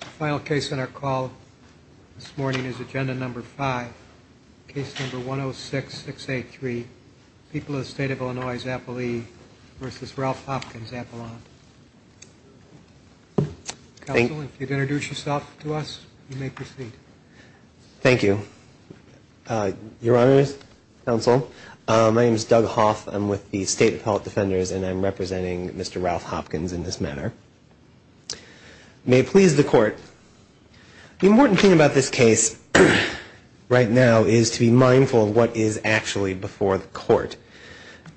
The final case on our call this morning is Agenda No. 5, Case No. 106-683, People of the State of Illinois's Appalachia v. Ralph Hopkins, Appalachia. Counsel, if you'd introduce yourself to us, you may proceed. Thank you. Your Honor, Counsel, my name is Doug Hoff. I'm with the State Appellate Defenders, and I'm representing Mr. Ralph Hopkins in this manner. May it please the Court, the important thing about this case right now is to be mindful of what is actually before the Court.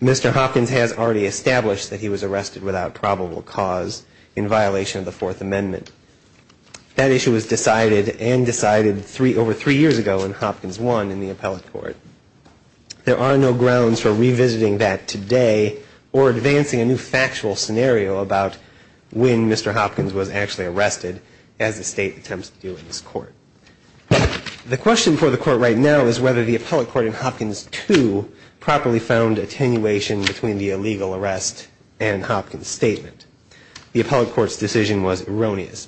Mr. Hopkins has already established that he was arrested without probable cause in violation of the Fourth Amendment. That issue was decided and decided over three years ago in Hopkins I in the Appellate Court. There are no grounds for revisiting that today or advancing a new factual scenario about when Mr. Hopkins was actually arrested as the State attempts to do in this Court. The question before the Court right now is whether the Appellate Court in Hopkins II properly found attenuation between the illegal arrest and Hopkins statement. The Appellate Court's decision was erroneous.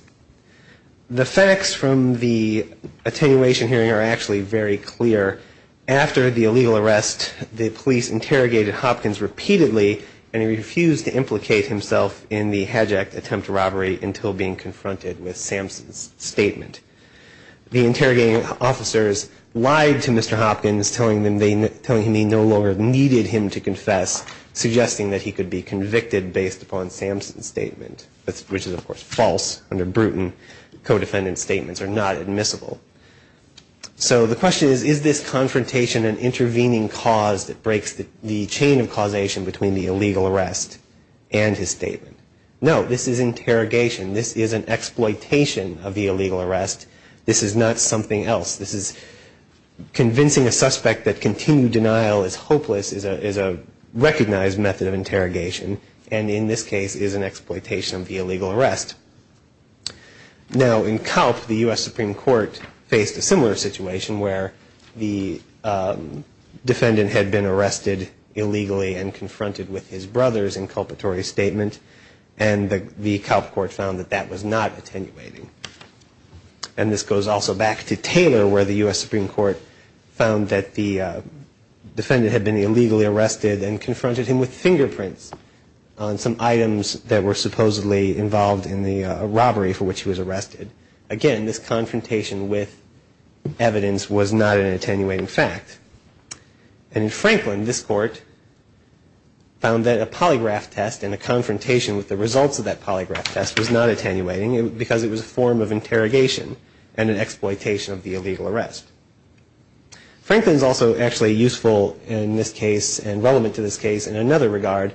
The facts from the attenuation hearing are actually very clear. After the illegal arrest, the police interrogated Hopkins repeatedly, and he refused to implicate himself in the Hedge Act attempt to robbery until being confronted with Samson's statement. The interrogating officers lied to Mr. Hopkins, telling him he no longer needed him to confess, suggesting that he could be convicted based upon Samson's statement, which is, of course, false under Bruton. Codefendant's statements are not admissible. So the question is, is this confrontation an intervening cause that breaks the chain of causation between the illegal arrest and his statement? No, this is interrogation. This is an exploitation of the illegal arrest. This is not something else. This is convincing a suspect that continued denial is hopeless is a recognized method of interrogation, and in this case is an exploitation of the illegal arrest. Now, in Kalp, the U.S. Supreme Court faced a similar situation where the defendant had been arrested illegally and confronted with his brother's inculpatory statement, and the Kalp Court found that that was not attenuating. And this goes also back to Taylor, where the U.S. Supreme Court found that the defendant had been illegally arrested and confronted him with fingerprints on some items that were supposedly involved in the robbery for which he was arrested. Again, this confrontation with evidence was not an attenuating fact. And in Franklin, this court found that a polygraph test and a confrontation with the results of that polygraph test was not attenuating because it was a form of interrogation and an exploitation of the illegal arrest. Franklin is also actually useful in this case and relevant to this case in another regard,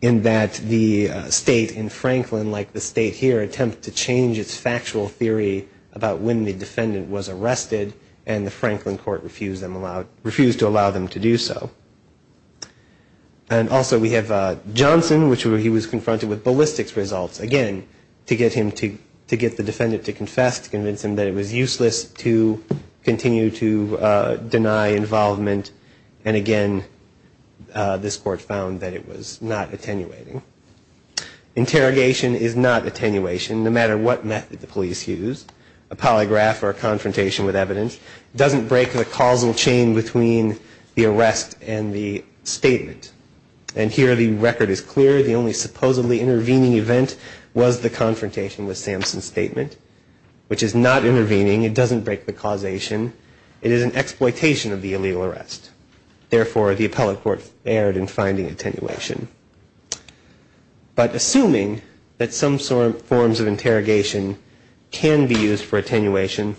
in that the state in Franklin, like the state here, attempted to change its factual theory about when the defendant was arrested, and the Franklin Court refused to allow them to do so. And also we have Johnson, which he was confronted with ballistics results, again, to get the defendant to confess, to convince him that it was useless to continue to deny involvement, and again, this court found that it was not attenuating. Interrogation is not attenuation, no matter what method the police use. A polygraph or a confrontation with evidence doesn't break the causal chain between the arrest and the statement. And here the record is clear. The only supposedly intervening event was the confrontation with Samson's statement, which is not intervening. It doesn't break the causation. It is an exploitation of the illegal arrest. Therefore, the appellate court erred in finding attenuation. But assuming that some forms of interrogation can be used for attenuation,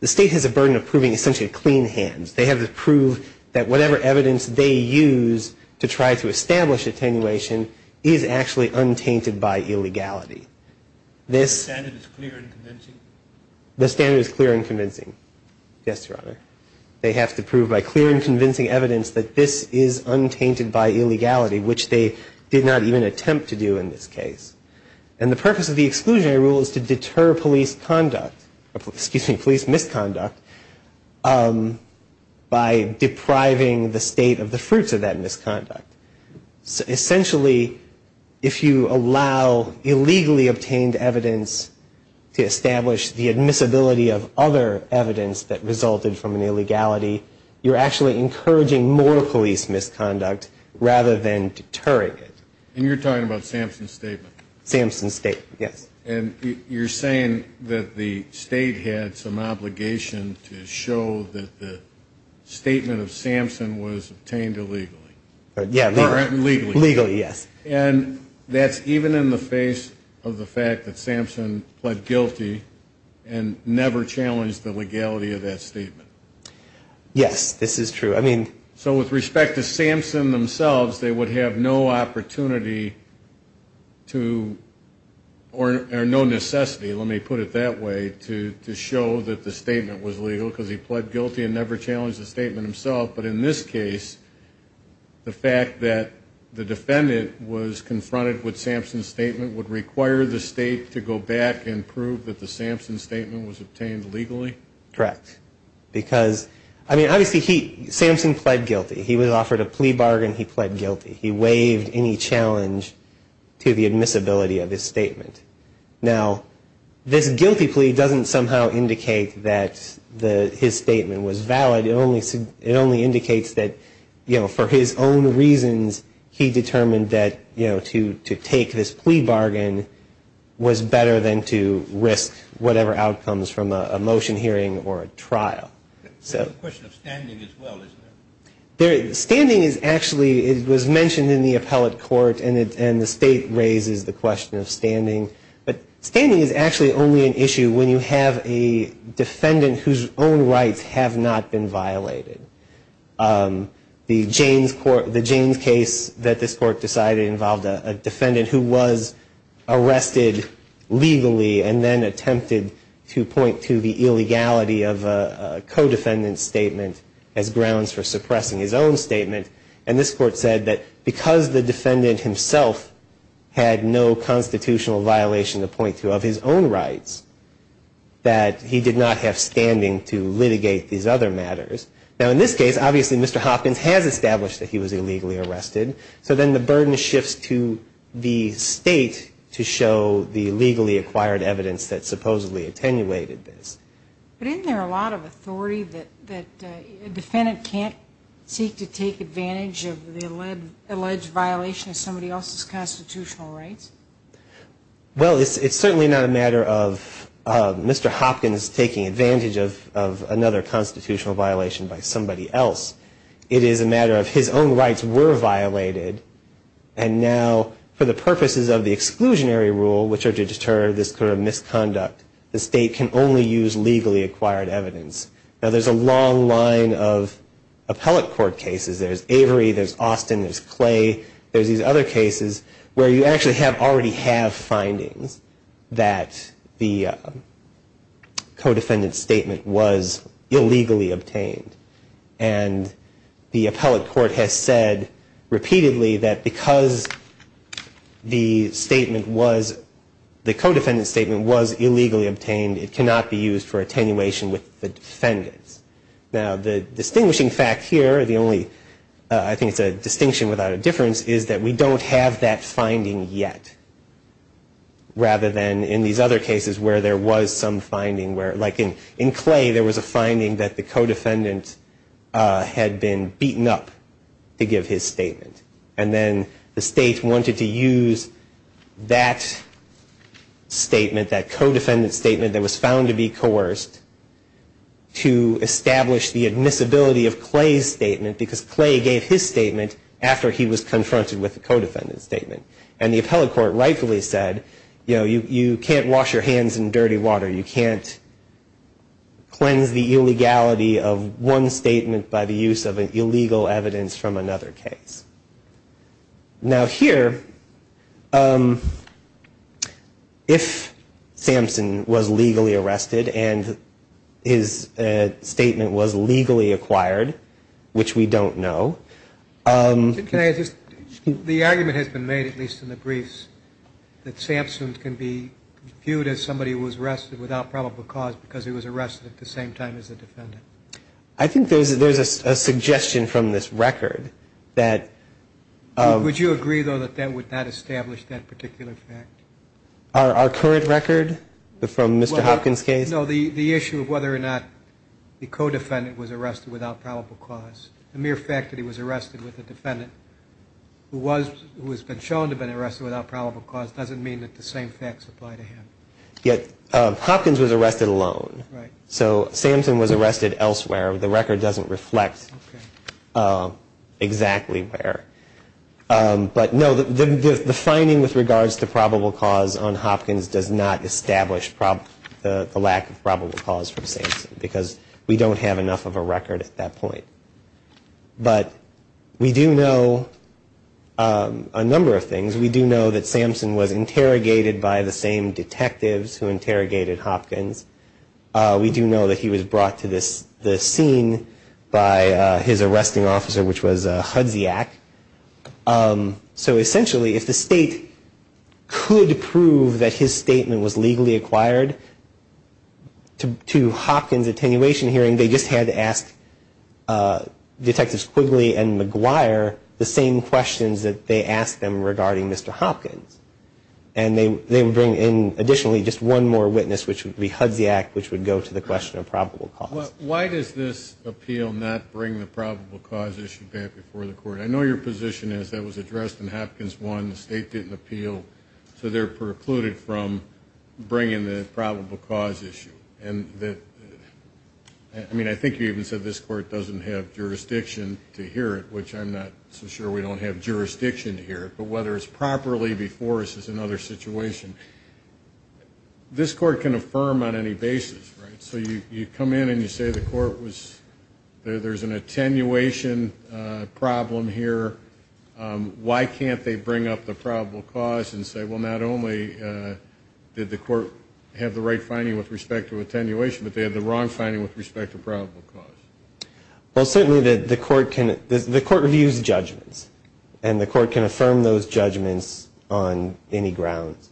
the state has a burden of proving essentially clean hands. They have to prove that whatever evidence they use to try to establish attenuation is actually untainted by illegality. The standard is clear and convincing? The standard is clear and convincing, yes, Your Honor. They have to prove by clear and convincing evidence that this is untainted by illegality, which they did not even attempt to do in this case. And the purpose of the exclusionary rule is to deter police misconduct by depriving the state of the fruits of that misconduct. Essentially, if you allow illegally obtained evidence to establish the admissibility of other evidence that resulted from an illegality, you're actually encouraging more police misconduct rather than deterring it. And you're talking about Samson's statement? Samson's statement, yes. And you're saying that the state had some obligation to show that the statement of Samson was obtained illegally? Yeah, legally. Legally, yes. And that's even in the face of the fact that Samson pled guilty and never challenged the legality of that statement? Yes, this is true. So with respect to Samson themselves, they would have no opportunity to, or no necessity, let me put it that way, to show that the statement was legal because he pled guilty and never challenged the statement himself. But in this case, the fact that the defendant was confronted with Samson's statement would require the state to go back and prove that the Samson statement was obtained legally? Correct. Because, I mean, obviously Samson pled guilty. He was offered a plea bargain. He pled guilty. He waived any challenge to the admissibility of his statement. Now, this guilty plea doesn't somehow indicate that his statement was valid. It only indicates that, you know, for his own reasons, he determined that, you know, to take this plea bargain was better than to risk whatever outcomes from a motion hearing or a trial. It's a question of standing as well, isn't it? Standing is actually, it was mentioned in the appellate court, and the state raises the question of standing. But standing is actually only an issue when you have a defendant whose own rights have not been violated. The Jaynes case that this court decided involved a defendant who was arrested legally and then attempted to point to the illegality of a co-defendant's statement as grounds for suppressing his own statement. And this court said that because the defendant himself had no constitutional violation to point to of his own rights, that he did not have standing to litigate these other matters. Now, in this case, obviously Mr. Hopkins has established that he was illegally arrested. So then the burden shifts to the state to show the legally acquired evidence that supposedly attenuated this. But isn't there a lot of authority that a defendant can't seek to take advantage of the alleged violation of somebody else's constitutional rights? Well, it's certainly not a matter of Mr. Hopkins taking advantage of another constitutional violation by somebody else. It is a matter of his own rights were violated, and now for the purposes of the exclusionary rule, which are to deter this kind of misconduct, the state can only use legally acquired evidence. Now, there's a long line of appellate court cases. There's Avery. There's Austin. There's Clay. There's these other cases where you actually have already have findings that the co-defendant's statement was illegally obtained. And the appellate court has said repeatedly that because the statement was, the co-defendant's statement was illegally obtained, it cannot be used for attenuation with the defendants. Now, the distinguishing fact here, the only, I think it's a distinction without a difference, is that we don't have that finding yet, rather than in these other cases where there was some finding, where like in Clay, there was a finding that the co-defendant had been beaten up to give his statement. And then the state wanted to use that statement, that co-defendant's statement that was found to be coerced, to establish the admissibility of Clay's statement, because Clay gave his statement after he was confronted with the co-defendant's statement. And the appellate court rightfully said, you know, you can't wash your hands in dirty water. You can't cleanse the illegality of one statement by the use of illegal evidence from another case. Now, here, if Samson was legally arrested and his statement was legally acquired, which we don't know. Can I just, the argument has been made, at least in the briefs, that Samson can be viewed as somebody who was arrested without probable cause because he was arrested at the same time as the defendant. I think there's a suggestion from this record that Would you agree, though, that that would not establish that particular fact? Our current record from Mr. Hopkins' case? No, the issue of whether or not the co-defendant was arrested without probable cause. The mere fact that he was arrested with a defendant who has been shown to have been arrested without probable cause doesn't mean that the same facts apply to him. Hopkins was arrested alone. Right. So Samson was arrested elsewhere. The record doesn't reflect exactly where. But, no, the finding with regards to probable cause on Hopkins does not establish the lack of probable cause from Samson because we don't have enough of a record at that point. But we do know a number of things. We do know that Samson was interrogated by the same detectives who interrogated Hopkins. We do know that he was brought to the scene by his arresting officer, which was Hudziak. So, essentially, if the state could prove that his statement was legally acquired to Hopkins' attenuation hearing, they just had to ask Detectives Quigley and McGuire the same questions that they asked them regarding Mr. Hopkins. And they would bring in, additionally, just one more witness, which would be Hudziak, which would go to the question of probable cause. Why does this appeal not bring the probable cause issue back before the court? I know your position is that was addressed in Hopkins 1, the state didn't appeal, so they're precluded from bringing the probable cause issue. I mean, I think you even said this court doesn't have jurisdiction to hear it, which I'm not so sure we don't have jurisdiction to hear it. But whether it's properly before us is another situation. This court can affirm on any basis, right? So you come in and you say the court was, there's an attenuation problem here. Why can't they bring up the probable cause and say, well, not only did the court have the right finding with respect to attenuation, but they had the wrong finding with respect to probable cause? Well, certainly the court can, the court reviews judgments, and the court can affirm those judgments on any grounds.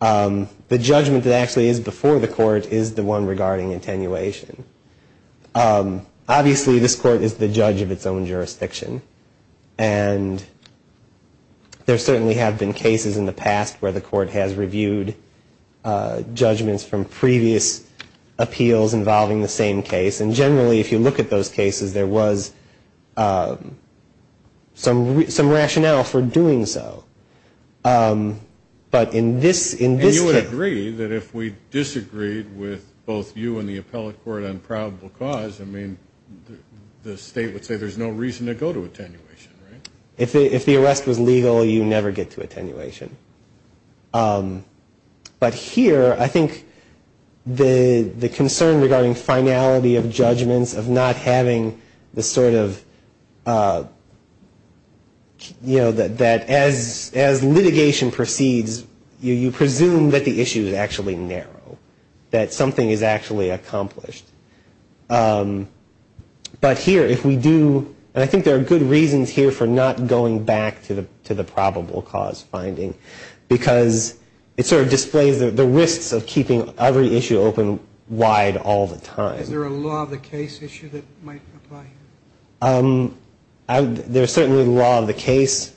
The judgment that actually is before the court is the one regarding attenuation. Obviously, this court is the judge of its own jurisdiction, and there certainly have been cases in the past where the court has reviewed judgments from previous appeals involving the same case. And generally, if you look at those cases, there was some rationale for doing so. But in this case... And you would agree that if we disagreed with both you and the appellate court on probable cause, I mean, the state would say there's no reason to go to attenuation, right? If the arrest was legal, you never get to attenuation. But here, I think the concern regarding finality of judgments, of not having the sort of, you know, that as litigation proceeds, you presume that the issue is actually narrow, that something is actually accomplished. But here, if we do, and I think there are good reasons here for not going back to the probable cause finding, because it sort of displays the risks of keeping every issue open wide all the time. Is there a law of the case issue that might apply here? There's certainly the law of the case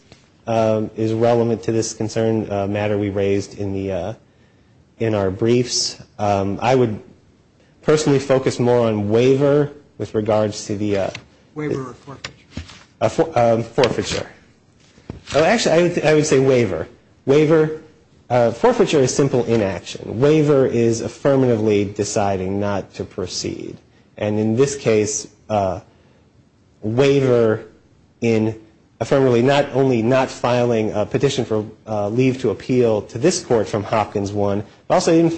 is relevant to this concern matter we raised in our briefs. I would personally focus more on waiver with regards to the... Waiver or forfeiture? Forfeiture. Actually, I would say waiver. Waiver... Forfeiture is simple inaction. Waiver is affirmatively deciding not to proceed. And in this case, waiver in affirmatively not only not filing a petition for leave to appeal to this court from Hopkins 1, but also even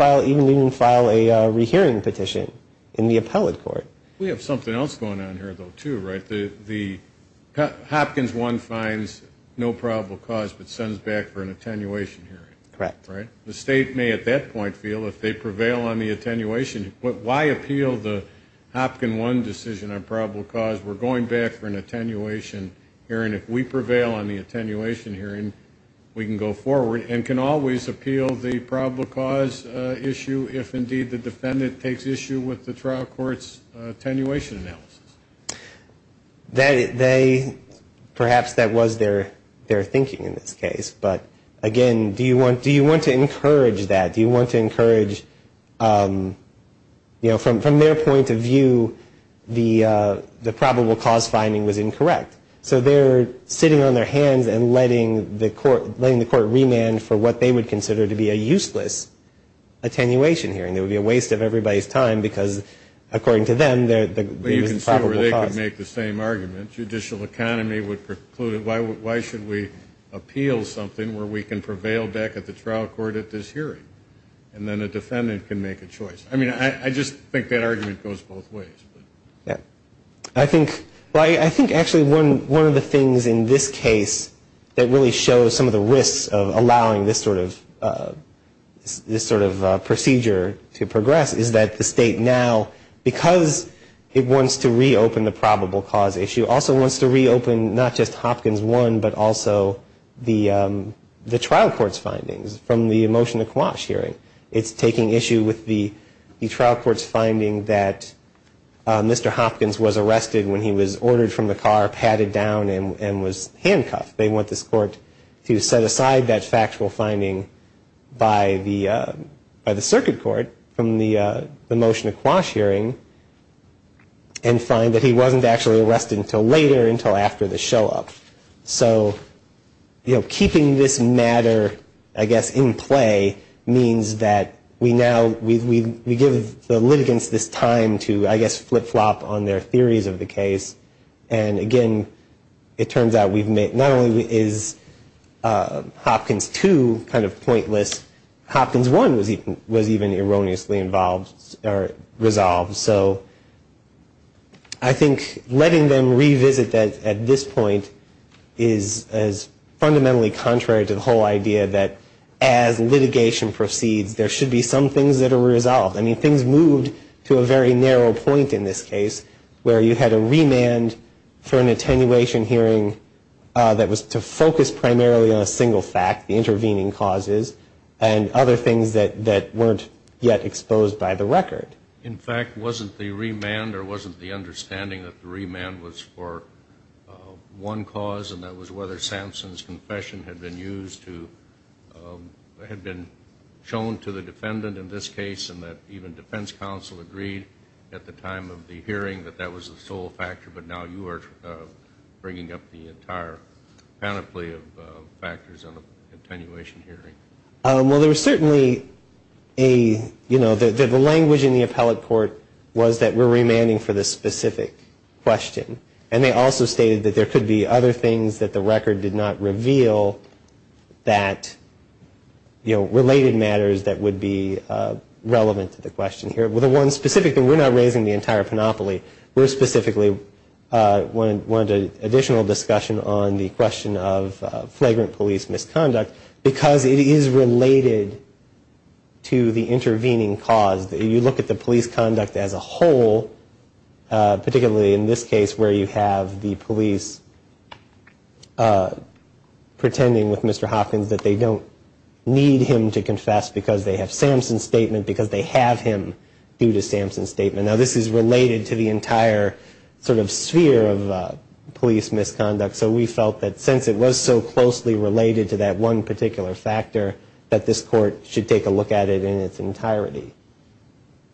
file a rehearing petition in the appellate court. We have something else going on here, though, too, right? Hopkins 1 finds no probable cause but sends back for an attenuation hearing. Correct. The state may at that point feel, if they prevail on the attenuation, why appeal the Hopkins 1 decision on probable cause? We're going back for an attenuation hearing. If we prevail on the attenuation hearing, we can go forward and can always appeal the probable cause issue if, indeed, the defendant takes issue with the trial court's attenuation analysis. Perhaps that was their thinking in this case. But, again, do you want to encourage that? Do you want to encourage, you know, from their point of view, the probable cause finding was incorrect? So they're sitting on their hands and letting the court remand for what they would consider to be a useless attenuation hearing. It would be a waste of everybody's time because, according to them, there is a probable cause. But you can see where they could make the same argument. The judicial economy would preclude it. Why should we appeal something where we can prevail back at the trial court at this hearing? And then a defendant can make a choice. I mean, I just think that argument goes both ways. I think actually one of the things in this case that really shows some of the risks of allowing this sort of procedure to progress is that the state now, because it wants to reopen the probable cause issue, also wants to reopen not just Hopkins 1 but also the trial court's findings from the motion to quash hearing. It's taking issue with the trial court's finding that Mr. Hopkins was arrested when he was ordered from the car, patted down, and was handcuffed. They want this court to set aside that factual finding by the circuit court from the motion to quash hearing and find that he wasn't actually arrested until later, until after the show-up. So keeping this matter, I guess, in play means that we give the litigants this time to, I guess, flip-flop on their theories of the case. And again, it turns out not only is Hopkins 2 kind of pointless, Hopkins 1 was even erroneously resolved. So I think letting them revisit that at this point is fundamentally contrary to the whole idea that as litigation proceeds, there should be some things that are resolved. I mean, things moved to a very narrow point in this case where you had a remand for an attenuation hearing that was to focus primarily on a single fact, the intervening causes, and other things that weren't yet exposed by the record. In fact, wasn't the remand or wasn't the understanding that the remand was for one cause and that was whether Sampson's confession had been used to, had been shown to the defendant in this case and that even defense counsel agreed at the time of the hearing that that was the sole factor, but now you are bringing up the entire panoply of factors in an attenuation hearing? Well, there was certainly a, you know, the language in the appellate court was that we're remanding for this specific question. And they also stated that there could be other things that the record did not reveal that, you know, related matters that would be relevant to the question here. Well, the one specific thing, we're not raising the entire panoply. We're specifically wanting additional discussion on the question of flagrant police misconduct because it is related to the intervening cause. You look at the police conduct as a whole, particularly in this case where you have the police pretending with Mr. Hopkins that they don't need him to confess because they have Sampson's statement, because they have him due to Sampson's statement. Now, this is related to the entire sort of sphere of police misconduct. So we felt that since it was so closely related to that one particular factor, that this court should take a look at it in its entirety.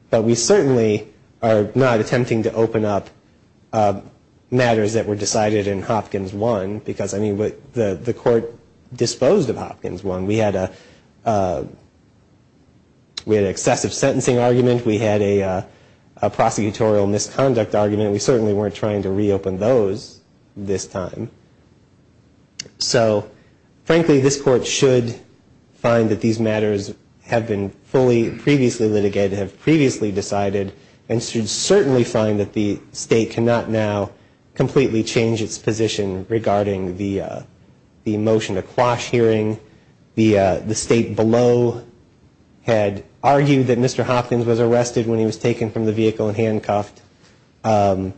But we certainly are not attempting to open up matters that were decided in Hopkins I because, I mean, the court disposed of Hopkins I. We had an excessive sentencing argument. We had a prosecutorial misconduct argument. We certainly weren't trying to reopen those this time. So, frankly, this court should find that these matters have been fully previously litigated, have previously decided, and should certainly find that the state cannot now completely change its position regarding the motion to quash hearing. The state below had argued that Mr. Hopkins was arrested when he was taken from the vehicle and handcuffed. That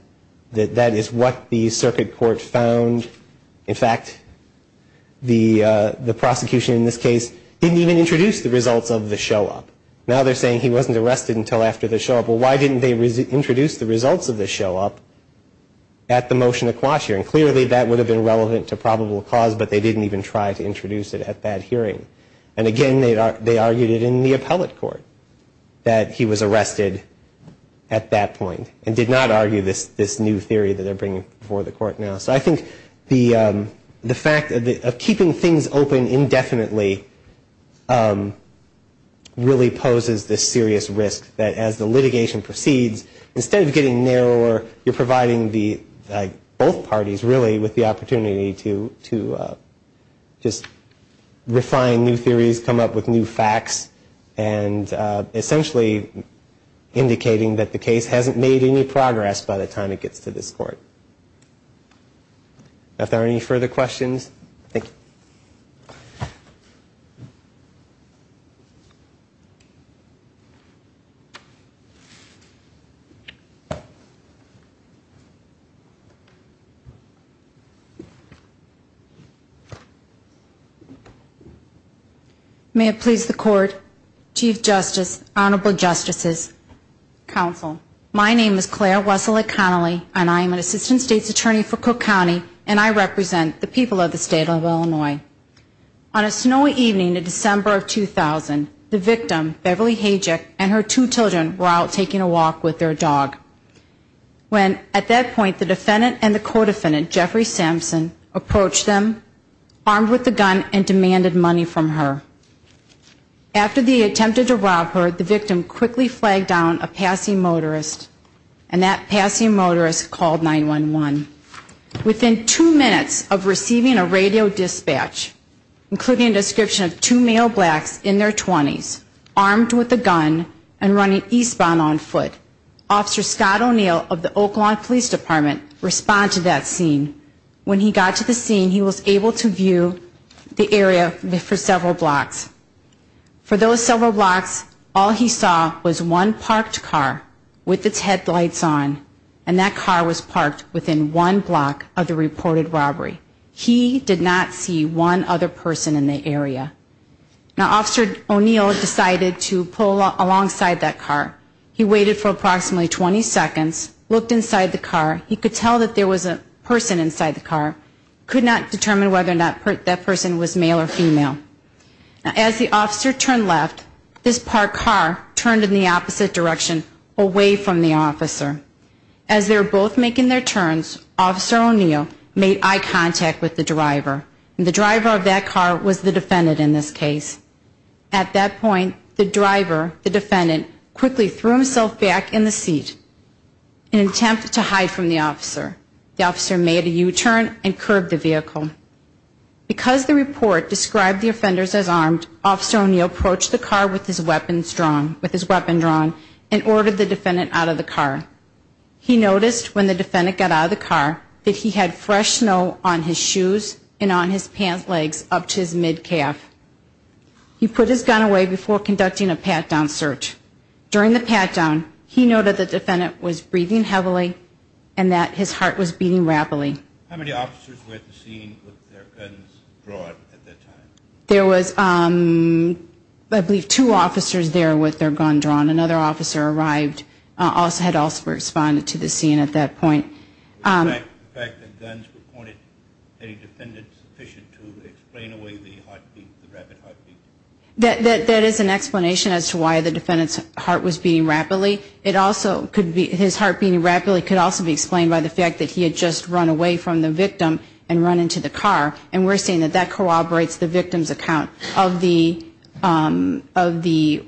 is what the circuit court found. In fact, the prosecution in this case didn't even introduce the results of the show-up. Now they're saying he wasn't arrested until after the show-up. Well, why didn't they introduce the results of the show-up at the motion to quash hearing? And clearly that would have been relevant to probable cause, but they didn't even try to introduce it at that hearing. And, again, they argued it in the appellate court that he was arrested at that point and did not argue this new theory that they're bringing before the court now. So I think the fact of keeping things open indefinitely really poses this serious risk that as the litigation proceeds, instead of getting narrower, you're providing both parties, really, with the opportunity to just refine new theories, come up with new facts, and essentially indicating that the case hasn't made any progress by the time it gets to this court. If there are any further questions, thank you. May it please the Court, Chief Justice, Honorable Justices, Counsel, my name is Claire Wessel-Econnelly and I am an Assistant State's Attorney for Cook County and I represent the people of the State of Illinois. On a snowy evening in December of 2000, the victim, Beverly Hajek, and her two children were out taking a walk with their dog when at that point the defendant and the co-defendant, Jeffrey Sampson, approached them, armed with a gun, and demanded money from her. After they attempted to rob her, the victim quickly flagged down a passing motorist and that passing motorist called 911. Within two minutes of receiving a radio dispatch, including a description of two male blacks in their 20s, armed with a gun and running eastbound on foot, Officer Scott O'Neill of the Oklahoma Police Department responded to that scene. When he got to the scene, he was able to view the area for several blocks. For those several blocks, all he saw was one parked car with its headlights on and that car was parked within one block of the reported robbery. He did not see one other person in the area. Now Officer O'Neill decided to pull alongside that car. He waited for approximately 20 seconds, looked inside the car. He could tell that there was a person inside the car, could not determine whether or not that person was male or female. As the officer turned left, this parked car turned in the opposite direction, away from the officer. As they were both making their turns, Officer O'Neill made eye contact with the driver and the driver of that car was the defendant in this case. At that point, the driver, the defendant, quickly threw himself back in the seat in an attempt to hide from the officer. The officer made a U-turn and curbed the vehicle. Because the report described the offenders as armed, Officer O'Neill approached the car with his weapon drawn and ordered the defendant out of the car. He noticed when the defendant got out of the car that he had fresh snow on his shoes and on his pant legs up to his mid-calf. He put his gun away before conducting a pat-down search. During the pat-down, he noted that the defendant was breathing heavily and that his heart was beating rapidly. How many officers were at the scene with their guns drawn at that time? There was, I believe, two officers there with their guns drawn. Another officer had also responded to the scene at that point. Was the fact that guns were pointed at any defendants sufficient to explain away the rapid heartbeat? That is an explanation as to why the defendant's heart was beating rapidly. His heart beating rapidly could also be explained by the fact that he had just run away from the victim and run into the car, and we're seeing that that corroborates the victim's account of the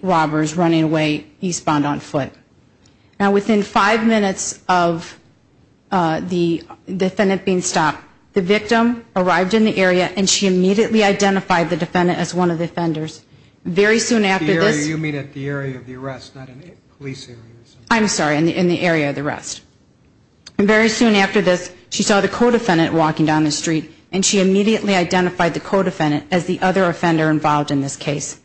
robbers running away. He spawned on foot. Now, within five minutes of the defendant being stopped, the victim arrived in the area and she immediately identified the defendant as one of the offenders. Very soon after this... You mean at the area of the arrest, not in the police area. I'm sorry, in the area of the arrest. And very soon after this, she saw the co-defendant walking down the street and she immediately identified the co-defendant as the other offender involved in this case.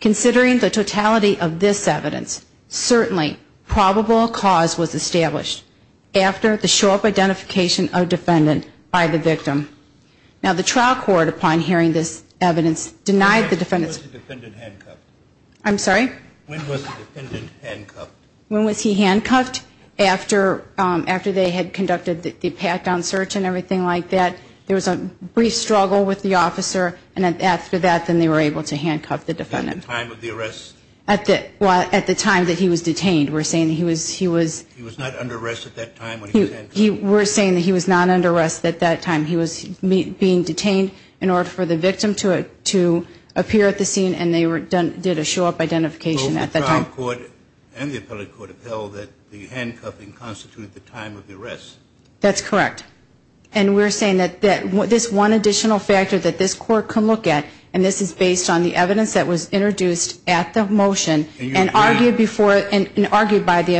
Considering the totality of this evidence, certainly probable cause was established after the show-up identification of defendant by the victim. Now, the trial court, upon hearing this evidence, denied the defendant's... When was the defendant handcuffed? I'm sorry? When was the defendant handcuffed? When was he handcuffed? After they had conducted the pat-down search and everything like that, there was a brief struggle with the officer, and after that, then they were able to handcuff the defendant. At the time of the arrest? Well, at the time that he was detained. We're saying that he was... He was not under arrest at that time when he was handcuffed? We're saying that he was not under arrest at that time. He was being detained in order for the victim to appear at the scene, and they did a show-up identification at that time. Both the trial court and the appellate court have held that the handcuffing constituted the time of the arrest. That's correct. And we're saying that this one additional factor that this court can look at, and this is based on the evidence that was introduced at the motion and argued by the...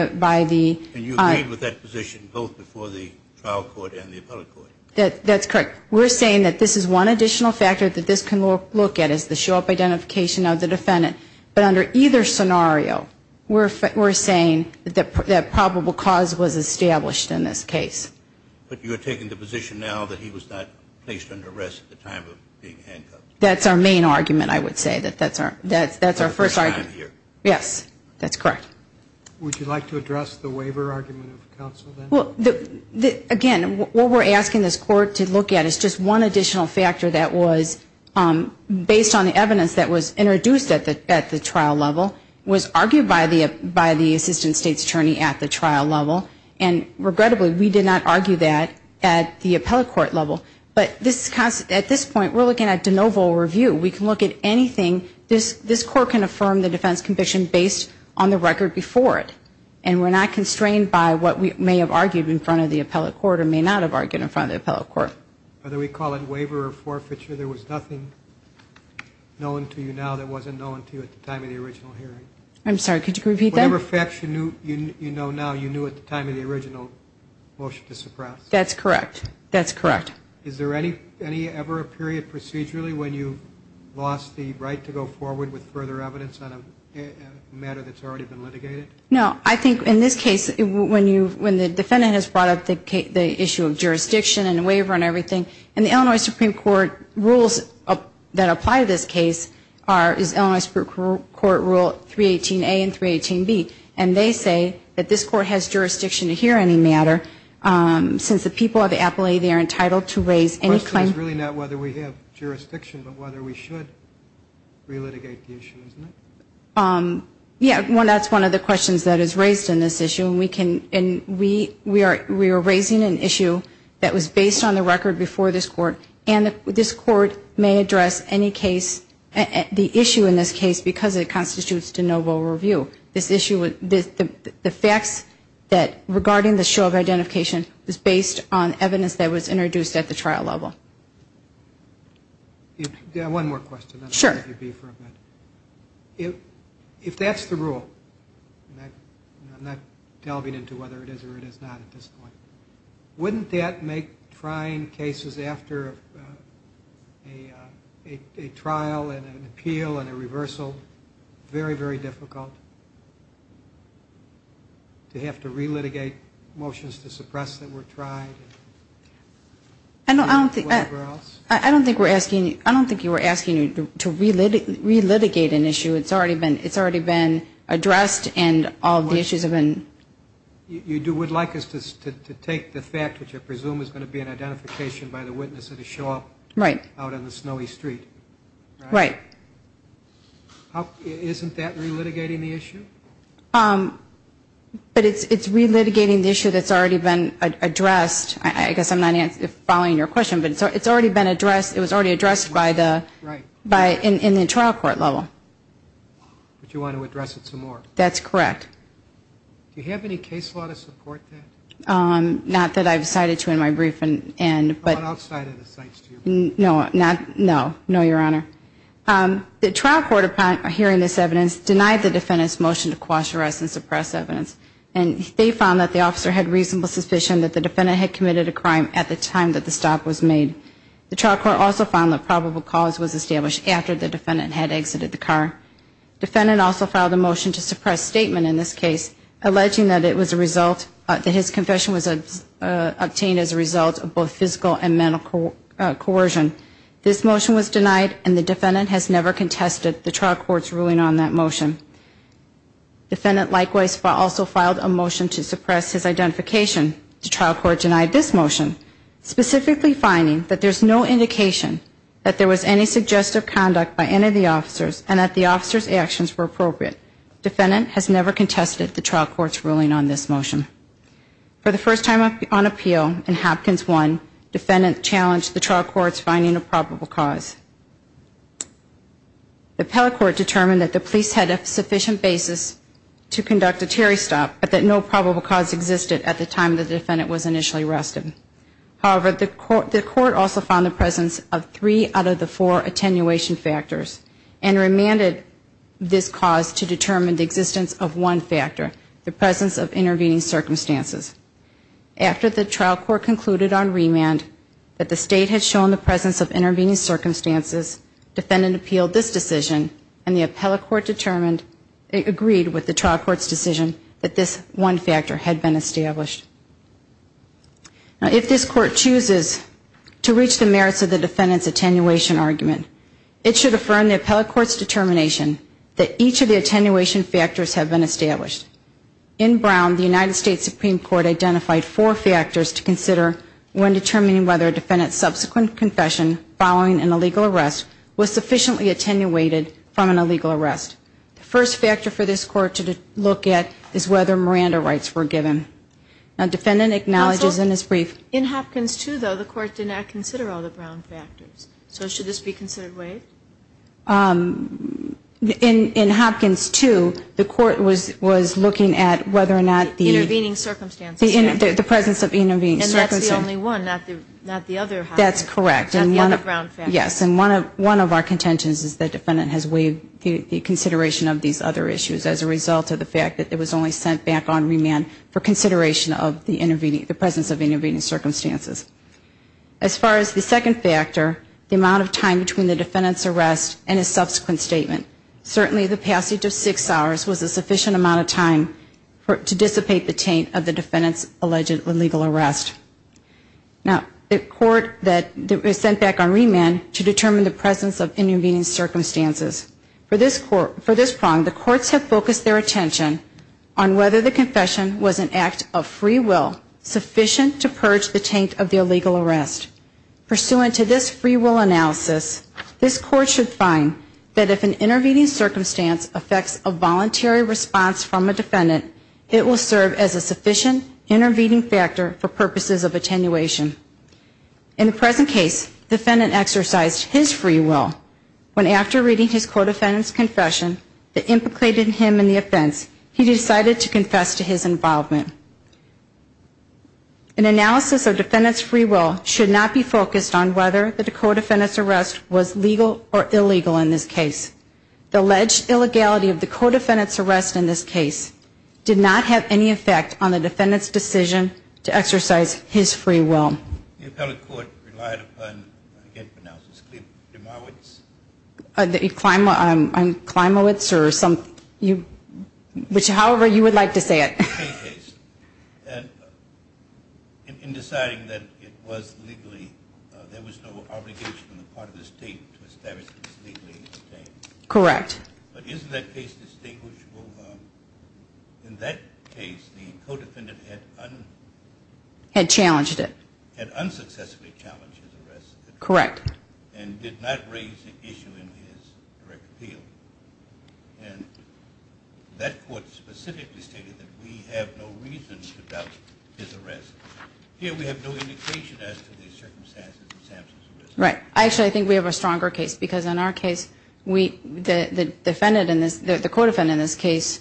And you agreed with that position both before the trial court and the appellate court? That's correct. We're saying that this is one additional factor that this can look at is the show-up identification of the defendant. But under either scenario, we're saying that probable cause was established in this case. But you're taking the position now that he was not placed under arrest at the time of being handcuffed? That's our main argument, I would say. That's our first argument. Yes, that's correct. Would you like to address the waiver argument of counsel then? Again, what we're asking this court to look at is just one additional factor that was, based on the evidence that was introduced at the trial level, was argued by the assistant state's attorney at the trial level. And regrettably, we did not argue that at the appellate court level. But at this point, we're looking at de novo review. We can look at anything. This court can affirm the defense condition based on the record before it. And we're not constrained by what we may have argued in front of the appellate court or may not have argued in front of the appellate court. Whether we call it waiver or forfeiture, there was nothing known to you now that wasn't known to you at the time of the original hearing. I'm sorry, could you repeat that? Whatever facts you know now, you knew at the time of the original motion to suppress. That's correct. That's correct. Is there any ever a period procedurally when you've lost the right to go forward with further evidence on a matter that's already been litigated? No. I think in this case, when the defendant has brought up the issue of jurisdiction and the waiver and everything, and the Illinois Supreme Court rules that apply to this case is Illinois Supreme Court Rule 318A and 318B. And they say that this court has jurisdiction to hear any matter since the people of the appellate are entitled to raise any claim. The question is really not whether we have jurisdiction, but whether we should relitigate the issue, isn't it? Yeah, that's one of the questions that is raised in this issue. And we are raising an issue that was based on the record before this court. And this court may address any case, the issue in this case, because it constitutes de novo review. The facts regarding the show of identification is based on evidence that was introduced at the trial level. One more question. Sure. If that's the rule, and I'm not delving into whether it is or it is not at this point, wouldn't that make trying cases after a trial and an appeal and a reversal very, very difficult? Do you have to relitigate motions to suppress that were tried? I don't think we're asking you to relitigate an issue. It's already been addressed and all the issues have been. You would like us to take the fact, which I presume is going to be an identification by the witness that has shown up out on the snowy street. Right. Isn't that relitigating the issue? But it's relitigating the issue that's already been addressed. I guess I'm not following your question, but it's already been addressed. It was already addressed in the trial court level. But you want to address it some more. That's correct. Do you have any case law to support that? Not that I've cited to in my briefing. Not outside of the sites, do you? No, Your Honor. The trial court, upon hearing this evidence, denied the defendant's motion to quash, arrest, and suppress evidence. And they found that the officer had reasonable suspicion that the defendant had committed a crime at the time that the stop was made. The trial court also found that probable cause was established after the defendant had exited the car. The defendant also filed a motion to suppress statement in this case, alleging that his confession was obtained as a result of both physical and mental coercion. This motion was denied, and the defendant has never contested the trial court's ruling on that motion. The defendant likewise also filed a motion to suppress his identification. The trial court denied this motion, specifically finding that there's no indication that there was any suggestive conduct by any of the officers and that the officers' actions were appropriate. The defendant has never contested the trial court's ruling on this motion. For the first time on appeal in Hopkins 1, the defendant challenged the trial court's finding of probable cause. The appellate court determined that the police had a sufficient basis to conduct a Terry stop, but that no probable cause existed at the time the defendant was initially arrested. However, the court also found the presence of three out of the four attenuation factors and remanded this cause to determine the existence of one factor, the presence of intervening circumstances. After the trial court concluded on remand that the state had shown the presence of intervening circumstances, defendant appealed this decision, and the appellate court agreed with the trial court's decision that this one factor had been established. If this court chooses to reach the merits of the defendant's attenuation argument, it should affirm the appellate court's determination that each of the attenuation factors have been established. In Brown, the United States Supreme Court identified four factors to consider when determining whether a defendant's subsequent confession following an illegal arrest was sufficiently attenuated from an illegal arrest. The first factor for this court to look at is whether Miranda rights were given. Now, defendant acknowledges in his brief. Counsel, in Hopkins 2, though, the court did not consider all the Brown factors. So should this be considered waived? In Hopkins 2, the court was looking at whether or not the intervening circumstances The presence of intervening circumstances. And that's the only one, not the other. That's correct. Not the other Brown factors. Yes, and one of our contentions is that defendant has waived the consideration of these other issues as a result of the fact that it was only sent back on remand for consideration of the presence of intervening circumstances. As far as the second factor, the amount of time between the defendant's arrest and his subsequent statement, certainly the passage of six hours was a sufficient amount of time to dissipate the taint of the defendant's alleged illegal arrest. Now, the court that was sent back on remand to determine the presence of intervening circumstances. For this prong, the courts have focused their attention on whether the confession was an act of free will sufficient to purge the taint of the illegal arrest. Pursuant to this free will analysis, this court should find that if an intervening circumstance affects a voluntary response from a defendant, it will serve as a sufficient intervening factor for purposes of attenuation. In the present case, defendant exercised his free will when after reading his co-defendant's confession that implicated him in the offense, he decided to confess to his involvement. An analysis of defendant's free will should not be focused on whether the co-defendant's arrest was legal or illegal in this case. The alleged illegality of the co-defendant's arrest in this case did not have any effect on the defendant's decision to exercise his free will. The appellate court relied upon, I can't pronounce this, Klimowitz? Klimowitz or some, however you would like to say it. In this case, in deciding that it was legally, there was no obligation on the part of the state to establish that it was legally abstained. Correct. But isn't that case distinguishable? In that case, the co-defendant had unsuccessfully challenged his arrest. Correct. And did not raise the issue in his direct appeal. And that court specifically stated that we have no reason to doubt his arrest. Here we have no indication as to the circumstances of Samson's arrest. Right. Actually, I think we have a stronger case because in our case, the defendant in this, the co-defendant in this case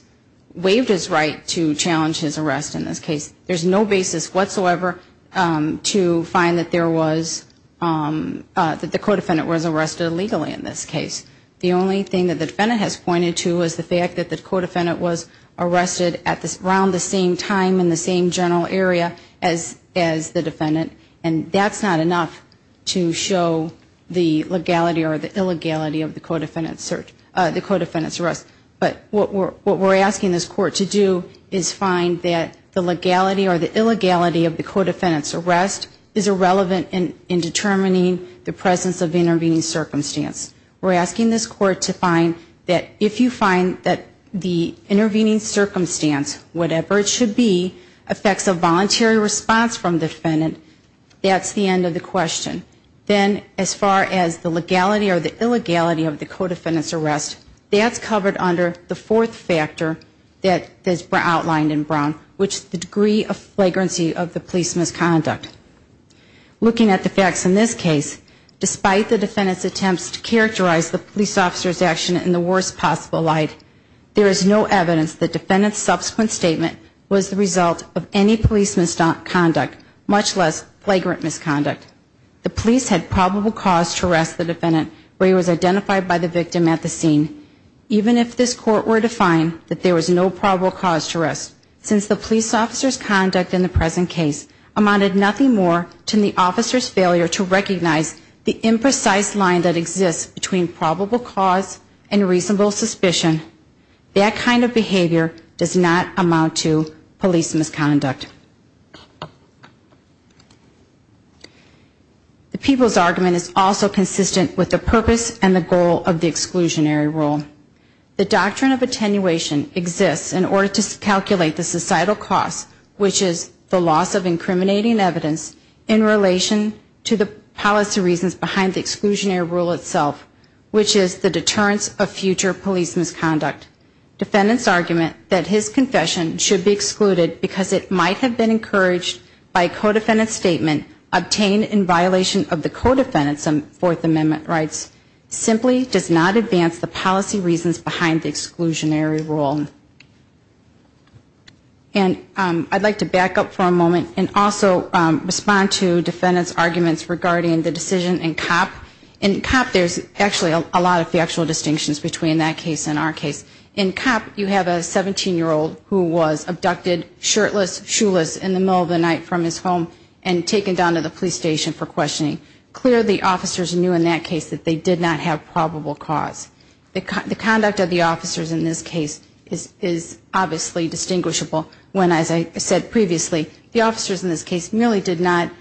waived his right to challenge his arrest in this case. There's no basis whatsoever to find that there was, that the co-defendant was arrested illegally in this case. The only thing that the defendant has pointed to is the fact that the co-defendant was arrested around the same time in the same general area as the defendant. And that's not enough to show the legality or the illegality of the co-defendant's search, the co-defendant's arrest. But what we're asking this court to do is find that the legality or the illegality of the co-defendant's arrest is irrelevant in determining the presence of intervening circumstance. We're asking this court to find that if you find that the intervening circumstance, whatever it should be, affects a voluntary response from the defendant, that's the end of the question. Then as far as the legality or the illegality of the co-defendant's arrest, that's covered under the fourth factor that is outlined in brown, which is the degree of flagrancy of the police misconduct. Looking at the facts in this case, despite the defendant's attempts to characterize the police officer's action in the worst possible light, there is no evidence the defendant's subsequent statement was the result of any police misconduct, much less flagrant misconduct. The police had probable cause to arrest the defendant where he was identified by the victim at the scene. Even if this court were to find that there was no probable cause to arrest, since the police officer's conduct in the present case amounted nothing more to the officer's failure to recognize the imprecise line that exists between probable cause and reasonable suspicion, that kind of behavior does not amount to police misconduct. The people's argument is also consistent with the purpose and the goal of the exclusionary rule. The doctrine of attenuation exists in order to calculate the societal cost, which is the loss of incriminating evidence in relation to the policy reasons behind the exclusionary rule itself, which is the deterrence of future police misconduct. Defendant's argument that his confession should be excluded because it might have been encouraged by a co-defendant's statement obtained in violation of the co-defendants' Fourth Amendment rights simply does not advance the policy reasons behind the exclusionary rule. And I'd like to back up for a moment and also respond to defendant's arguments regarding the decision in COP. In COP there's actually a lot of factual distinctions between that case and our case. In COP you have a 17-year-old who was abducted shirtless, shoeless in the middle of the night from his home and taken down to the police station for questioning. Clearly officers knew in that case that they did not have probable cause. The conduct of the officers in this case is obviously distinguishable when, as I said previously, the officers in this case merely did not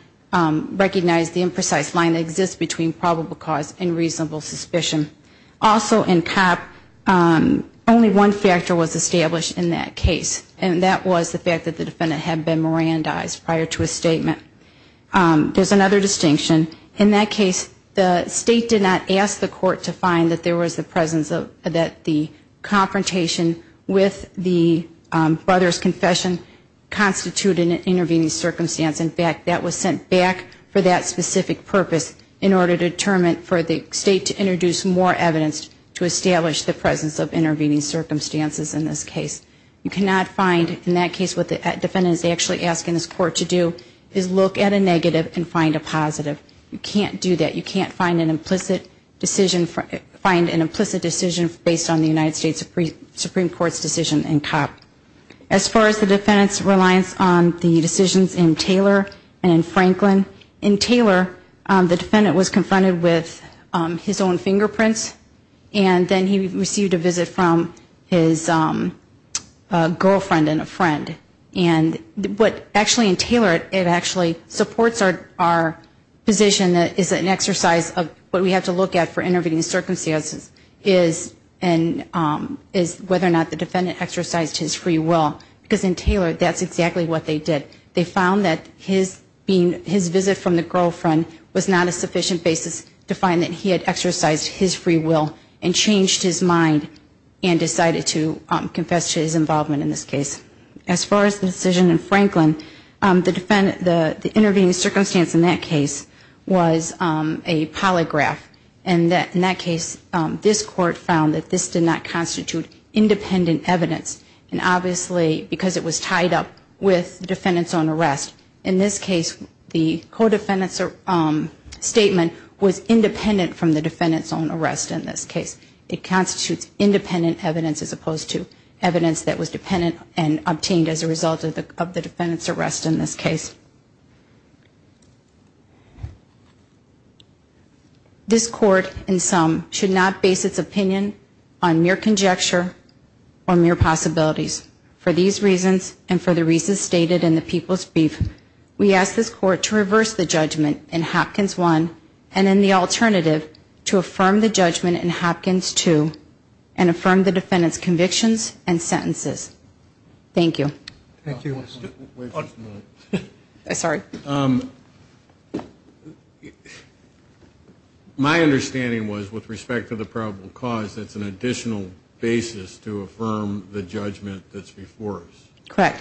recognize the imprecise line that exists between probable cause and reasonable suspicion. Also in COP only one factor was established in that case, and that was the fact that the defendant had been Mirandized prior to his statement. There's another distinction. In that case the State did not ask the court to find that there was the presence of, that the confrontation with the brother's confession constituted an intervening circumstance. In fact, that was sent back for that specific purpose in order to determine, for the State to introduce more evidence to establish the presence of intervening circumstances in this case. You cannot find in that case what the defendant is actually asking this court to do, is look at a negative and find a positive. You can't do that. You can't find an implicit decision based on the United States Supreme Court's decision in COP. As far as the defendant's reliance on the decisions in Taylor and in Franklin, in Taylor the defendant was confronted with his own fingerprints and then he received a visit from his girlfriend and a friend. And what actually in Taylor, it actually supports our position that it's an exercise of what we have to look at for intervening circumstances, is whether or not the defendant exercised his free will, because in Taylor that's exactly what they did. They found that his visit from the girlfriend was not a sufficient basis to find that he had exercised his free will. And changed his mind and decided to confess to his involvement in this case. As far as the decision in Franklin, the intervening circumstance in that case was a polygraph. And in that case this court found that this did not constitute independent evidence. And obviously because it was tied up with defendant's own arrest. In this case the co-defendant's statement was independent from the defendant's own arrest in this case. It constitutes independent evidence as opposed to evidence that was dependent and obtained as a result of the defendant's arrest in this case. This court in sum should not base its opinion on mere conjecture or mere possibilities. For these reasons and for the reasons stated in the people's brief, we ask this court to reverse the judgment in Hopkins 1 and in the alternative to affirm the judgment in Hopkins 2 and affirm the defendant's convictions and sentences. Thank you. My understanding was with respect to the probable cause it's an additional basis to affirm the judgment in Hopkins 2. Correct.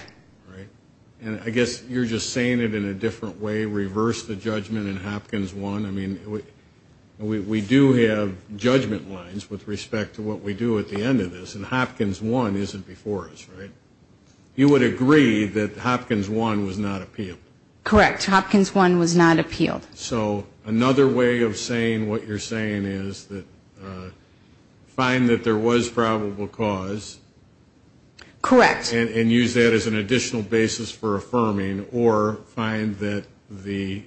And I guess you're just saying it in a different way, reverse the judgment in Hopkins 1. I mean we do have judgment lines with respect to what we do at the end of this and Hopkins 1 isn't before us, right? You would agree that Hopkins 1 was not appealed. Correct. Hopkins 1 was not appealed. So another way of saying what you're saying is find that there was probable cause and use that as an additional basis for affirming or find that the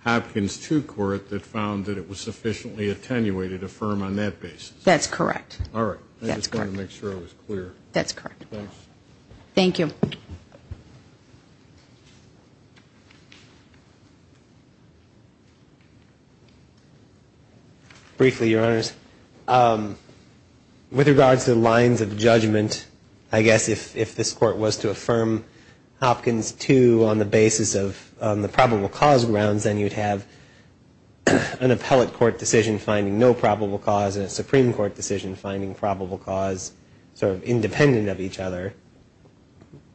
Hopkins 2 court that found that it was sufficiently attenuated affirm on that basis. That's correct. Briefly, Your Honors, with regards to the lines of judgment, I guess if this court was to affirm Hopkins 2 on the basis of the probable cause grounds then you'd have an appellate court decision finding no probable cause and a Supreme Court decision finding probable cause sort of independent of each other,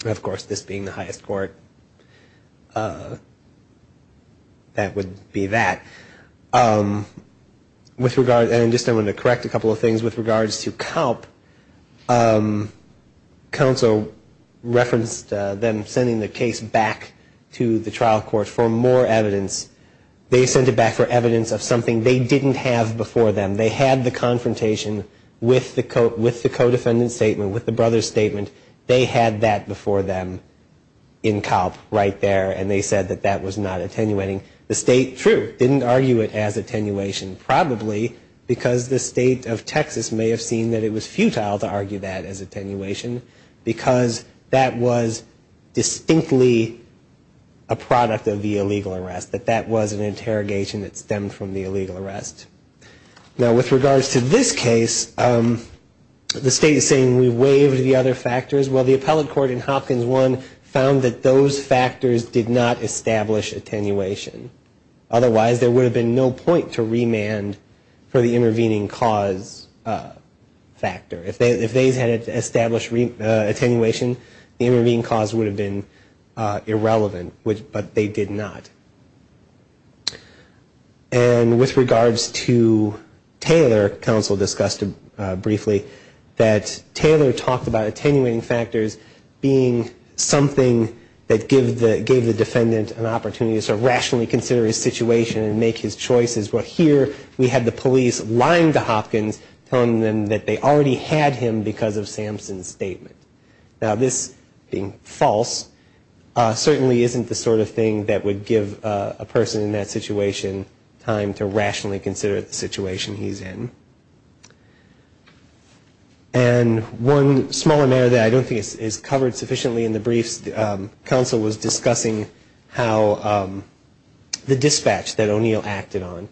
of course this being the highest court. That would be that. And just I wanted to correct a couple of things with regards to CALP. Counsel referenced them sending the case back to the trial court for more evidence. They sent it back for evidence of something they didn't have before them. They had the confrontation with the co-defendant's statement, with the brother's statement. They had that before them in CALP right there and they said that that was not attenuating. The state, true, didn't argue it as attenuation probably because the state of Texas may have seen that it was futile to argue that as attenuation because that was distinctly a product of the illegal arrest, that that was an interrogation that stemmed from the illegal arrest. Now with regards to this case, the state is saying we waived the other factors. Well, the appellate court in Hopkins 1 found that those factors did not establish attenuation. Otherwise there would have been no point to remand for the intervening cause factor. If they had established attenuation, the intervening cause would have been irrelevant, but they did not. And with regards to Taylor, counsel discussed briefly that Taylor talked about attenuating factors being something that gave the defendant an opportunity to sort of rationally consider his situation and make his choices, but here we had the police lying to Hopkins, telling them that they already had him because of Samson's statement. Now this being false certainly isn't the sort of thing that would give a person in that situation time to rationally consider the situation he's in. And one smaller matter that I don't think is covered sufficiently in the briefs, counsel was discussing how the dispatch that O'Neill acted on.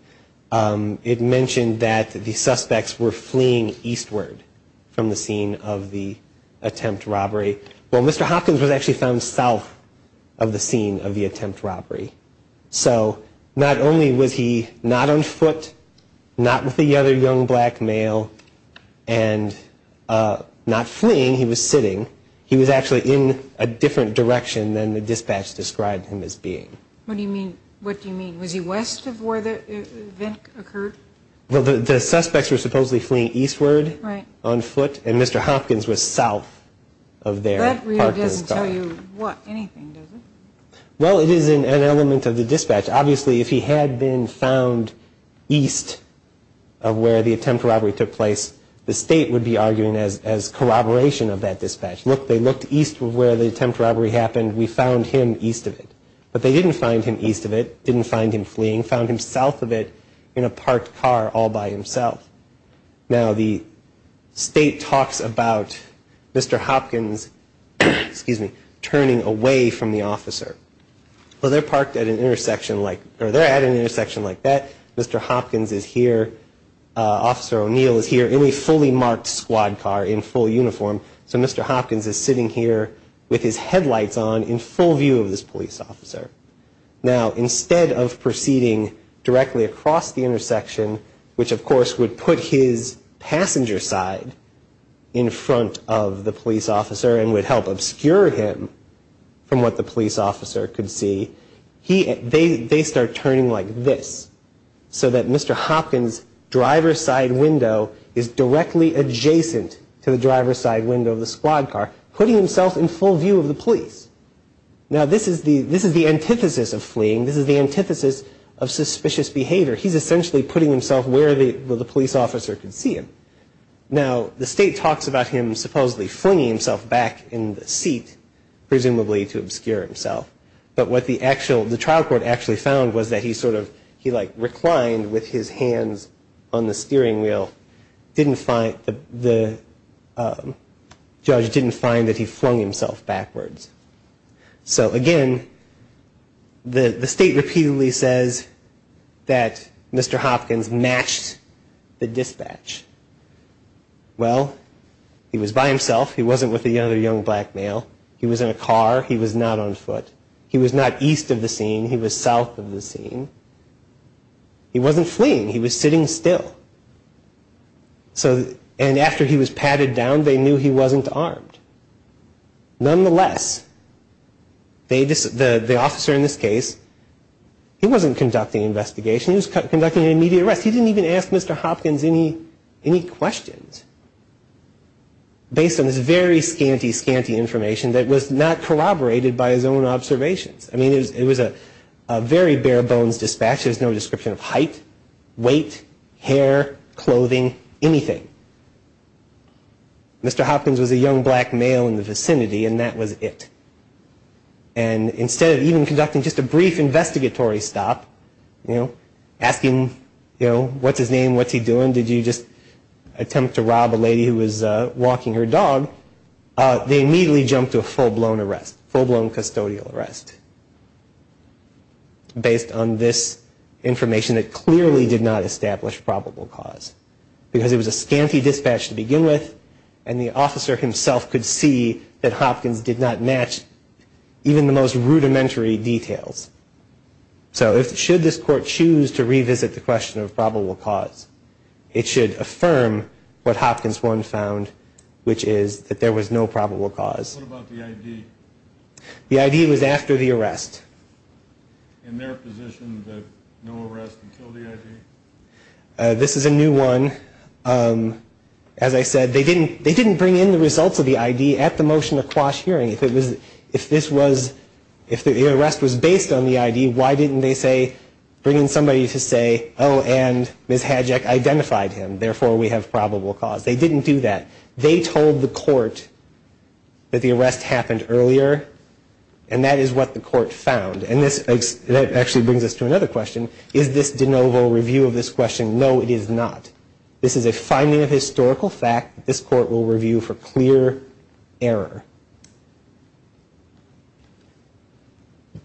It mentioned that the suspects were fleeing eastward from the scene of the attempt robbery. Well, Mr. Hopkins was actually found south of the scene of the attempt robbery. So not only was he not on foot, not with the other young black male, and not fleeing, he was sitting, he was actually in a different direction than the dispatch described him as being. What do you mean, was he west of where the event occurred? Well, the suspects were supposedly fleeing eastward on foot, and Mr. Hopkins was south of there. That really doesn't tell you anything, does it? Well, it is an element of the dispatch. Obviously if he had been found east of where the attempt robbery took place, the state would be arguing as corroboration of that dispatch. Look, they looked east of where the attempt robbery happened, we found him east of it. But they didn't find him east of it, didn't find him fleeing, found him south of it in a parked car all by himself. Now, the state talks about Mr. Hopkins, excuse me, turning away from the officer. Well, they're parked at an intersection like, or they're at an intersection like that. Mr. Hopkins is here. Officer O'Neill is here in a fully marked squad car in full uniform. So Mr. Hopkins is sitting here with his headlights on in full view of this police officer. Now, instead of proceeding directly across the intersection, which of course would put his passenger side in front of the police officer and would help obscure him from what the police officer could see, they start turning like this. So that Mr. Hopkins' driver's side window is directly adjacent to the driver's side window of the squad car, putting himself in full view of the police. Now, this is the antithesis of fleeing, this is the antithesis of suspicious behavior. He's essentially putting himself where the police officer could see him. Now, the state talks about him supposedly flinging himself back in the seat, presumably to obscure himself. But what the actual, the trial court actually found was that he sort of, he like reclined with his hands on the steering wheel. The judge didn't find that he flung himself backwards. So again, the state repeatedly says that Mr. Hopkins matched the dispatch. Well, he was by himself. He wasn't with the other young black male. He was in a car. He was not on foot. He was not east of the scene. He was south of the scene. He wasn't fleeing, he was sitting still. And after he was padded down, they knew he wasn't armed. Nonetheless, the officer in this case, he wasn't conducting an investigation. He was conducting an immediate arrest. He didn't even ask Mr. Hopkins any questions based on this very scanty, scanty information that was not corroborated by his own observations. I mean, it was a very bare bones dispatch. There was no description of height, weight, hair, clothing, anything. Mr. Hopkins was a young black male in the vicinity, and that was it. And instead of even conducting just a brief investigatory stop, you know, asking, you know, what's his name, what's he doing, did you just attempt to rob a lady who was walking her dog, they immediately jumped to a full-blown arrest, full-blown custodial arrest based on this information that clearly did not establish probable cause because it was a scanty dispatch to begin with, and the officer himself could see that Hopkins did not match even the most rudimentary details. So should this court choose to revisit the question of probable cause, it should affirm what Hopkins 1 found, which is that there was no probable cause. What about the ID? The ID was after the arrest. In their position that no arrest would kill the ID? This is a new one. As I said, they didn't bring in the results of the ID at the motion of quash hearing. If the arrest was based on the ID, why didn't they say, bring in somebody to say, oh, and Ms. Hadjack identified him, therefore we have probable cause. They didn't do that. They told the court that the arrest happened earlier, and that is what the court found. And that actually brings us to another question. Is this de novo review of this question? No, it is not. This is a finding of historical fact that this court will review for clear error.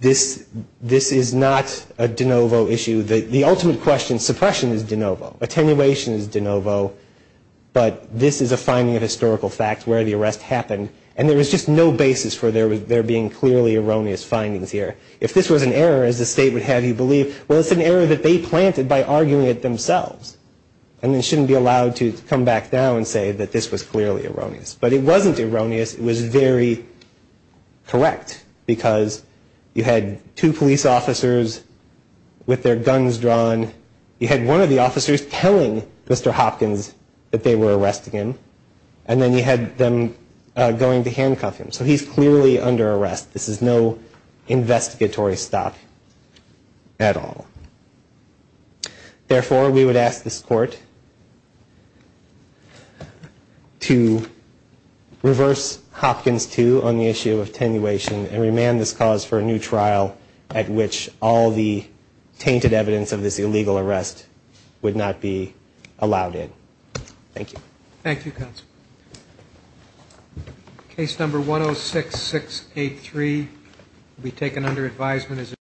This is not a de novo issue. The ultimate question, suppression is de novo, attenuation is de novo, but this is a finding of historical fact where the arrest happened, and there is just no basis for there being clearly erroneous findings here. If this was an error, as the state would have you believe, well, it's an error that they planted by arguing it themselves, and they shouldn't be allowed to come back down and say that this was clearly erroneous. But it wasn't erroneous, it was very correct, because you had two police officers with their guns drawn, you had one of the officers telling Mr. Hopkins that they were arresting him, and then you had them going to handcuff him, so he's clearly under arrest. This is no investigatory stop at all. Therefore, we would ask this court to reverse Hopkins 2 on the issue of attenuation and remand this cause for a new trial at which all the tainted evidence of this illegal arrest would not be allowed in. Thank you.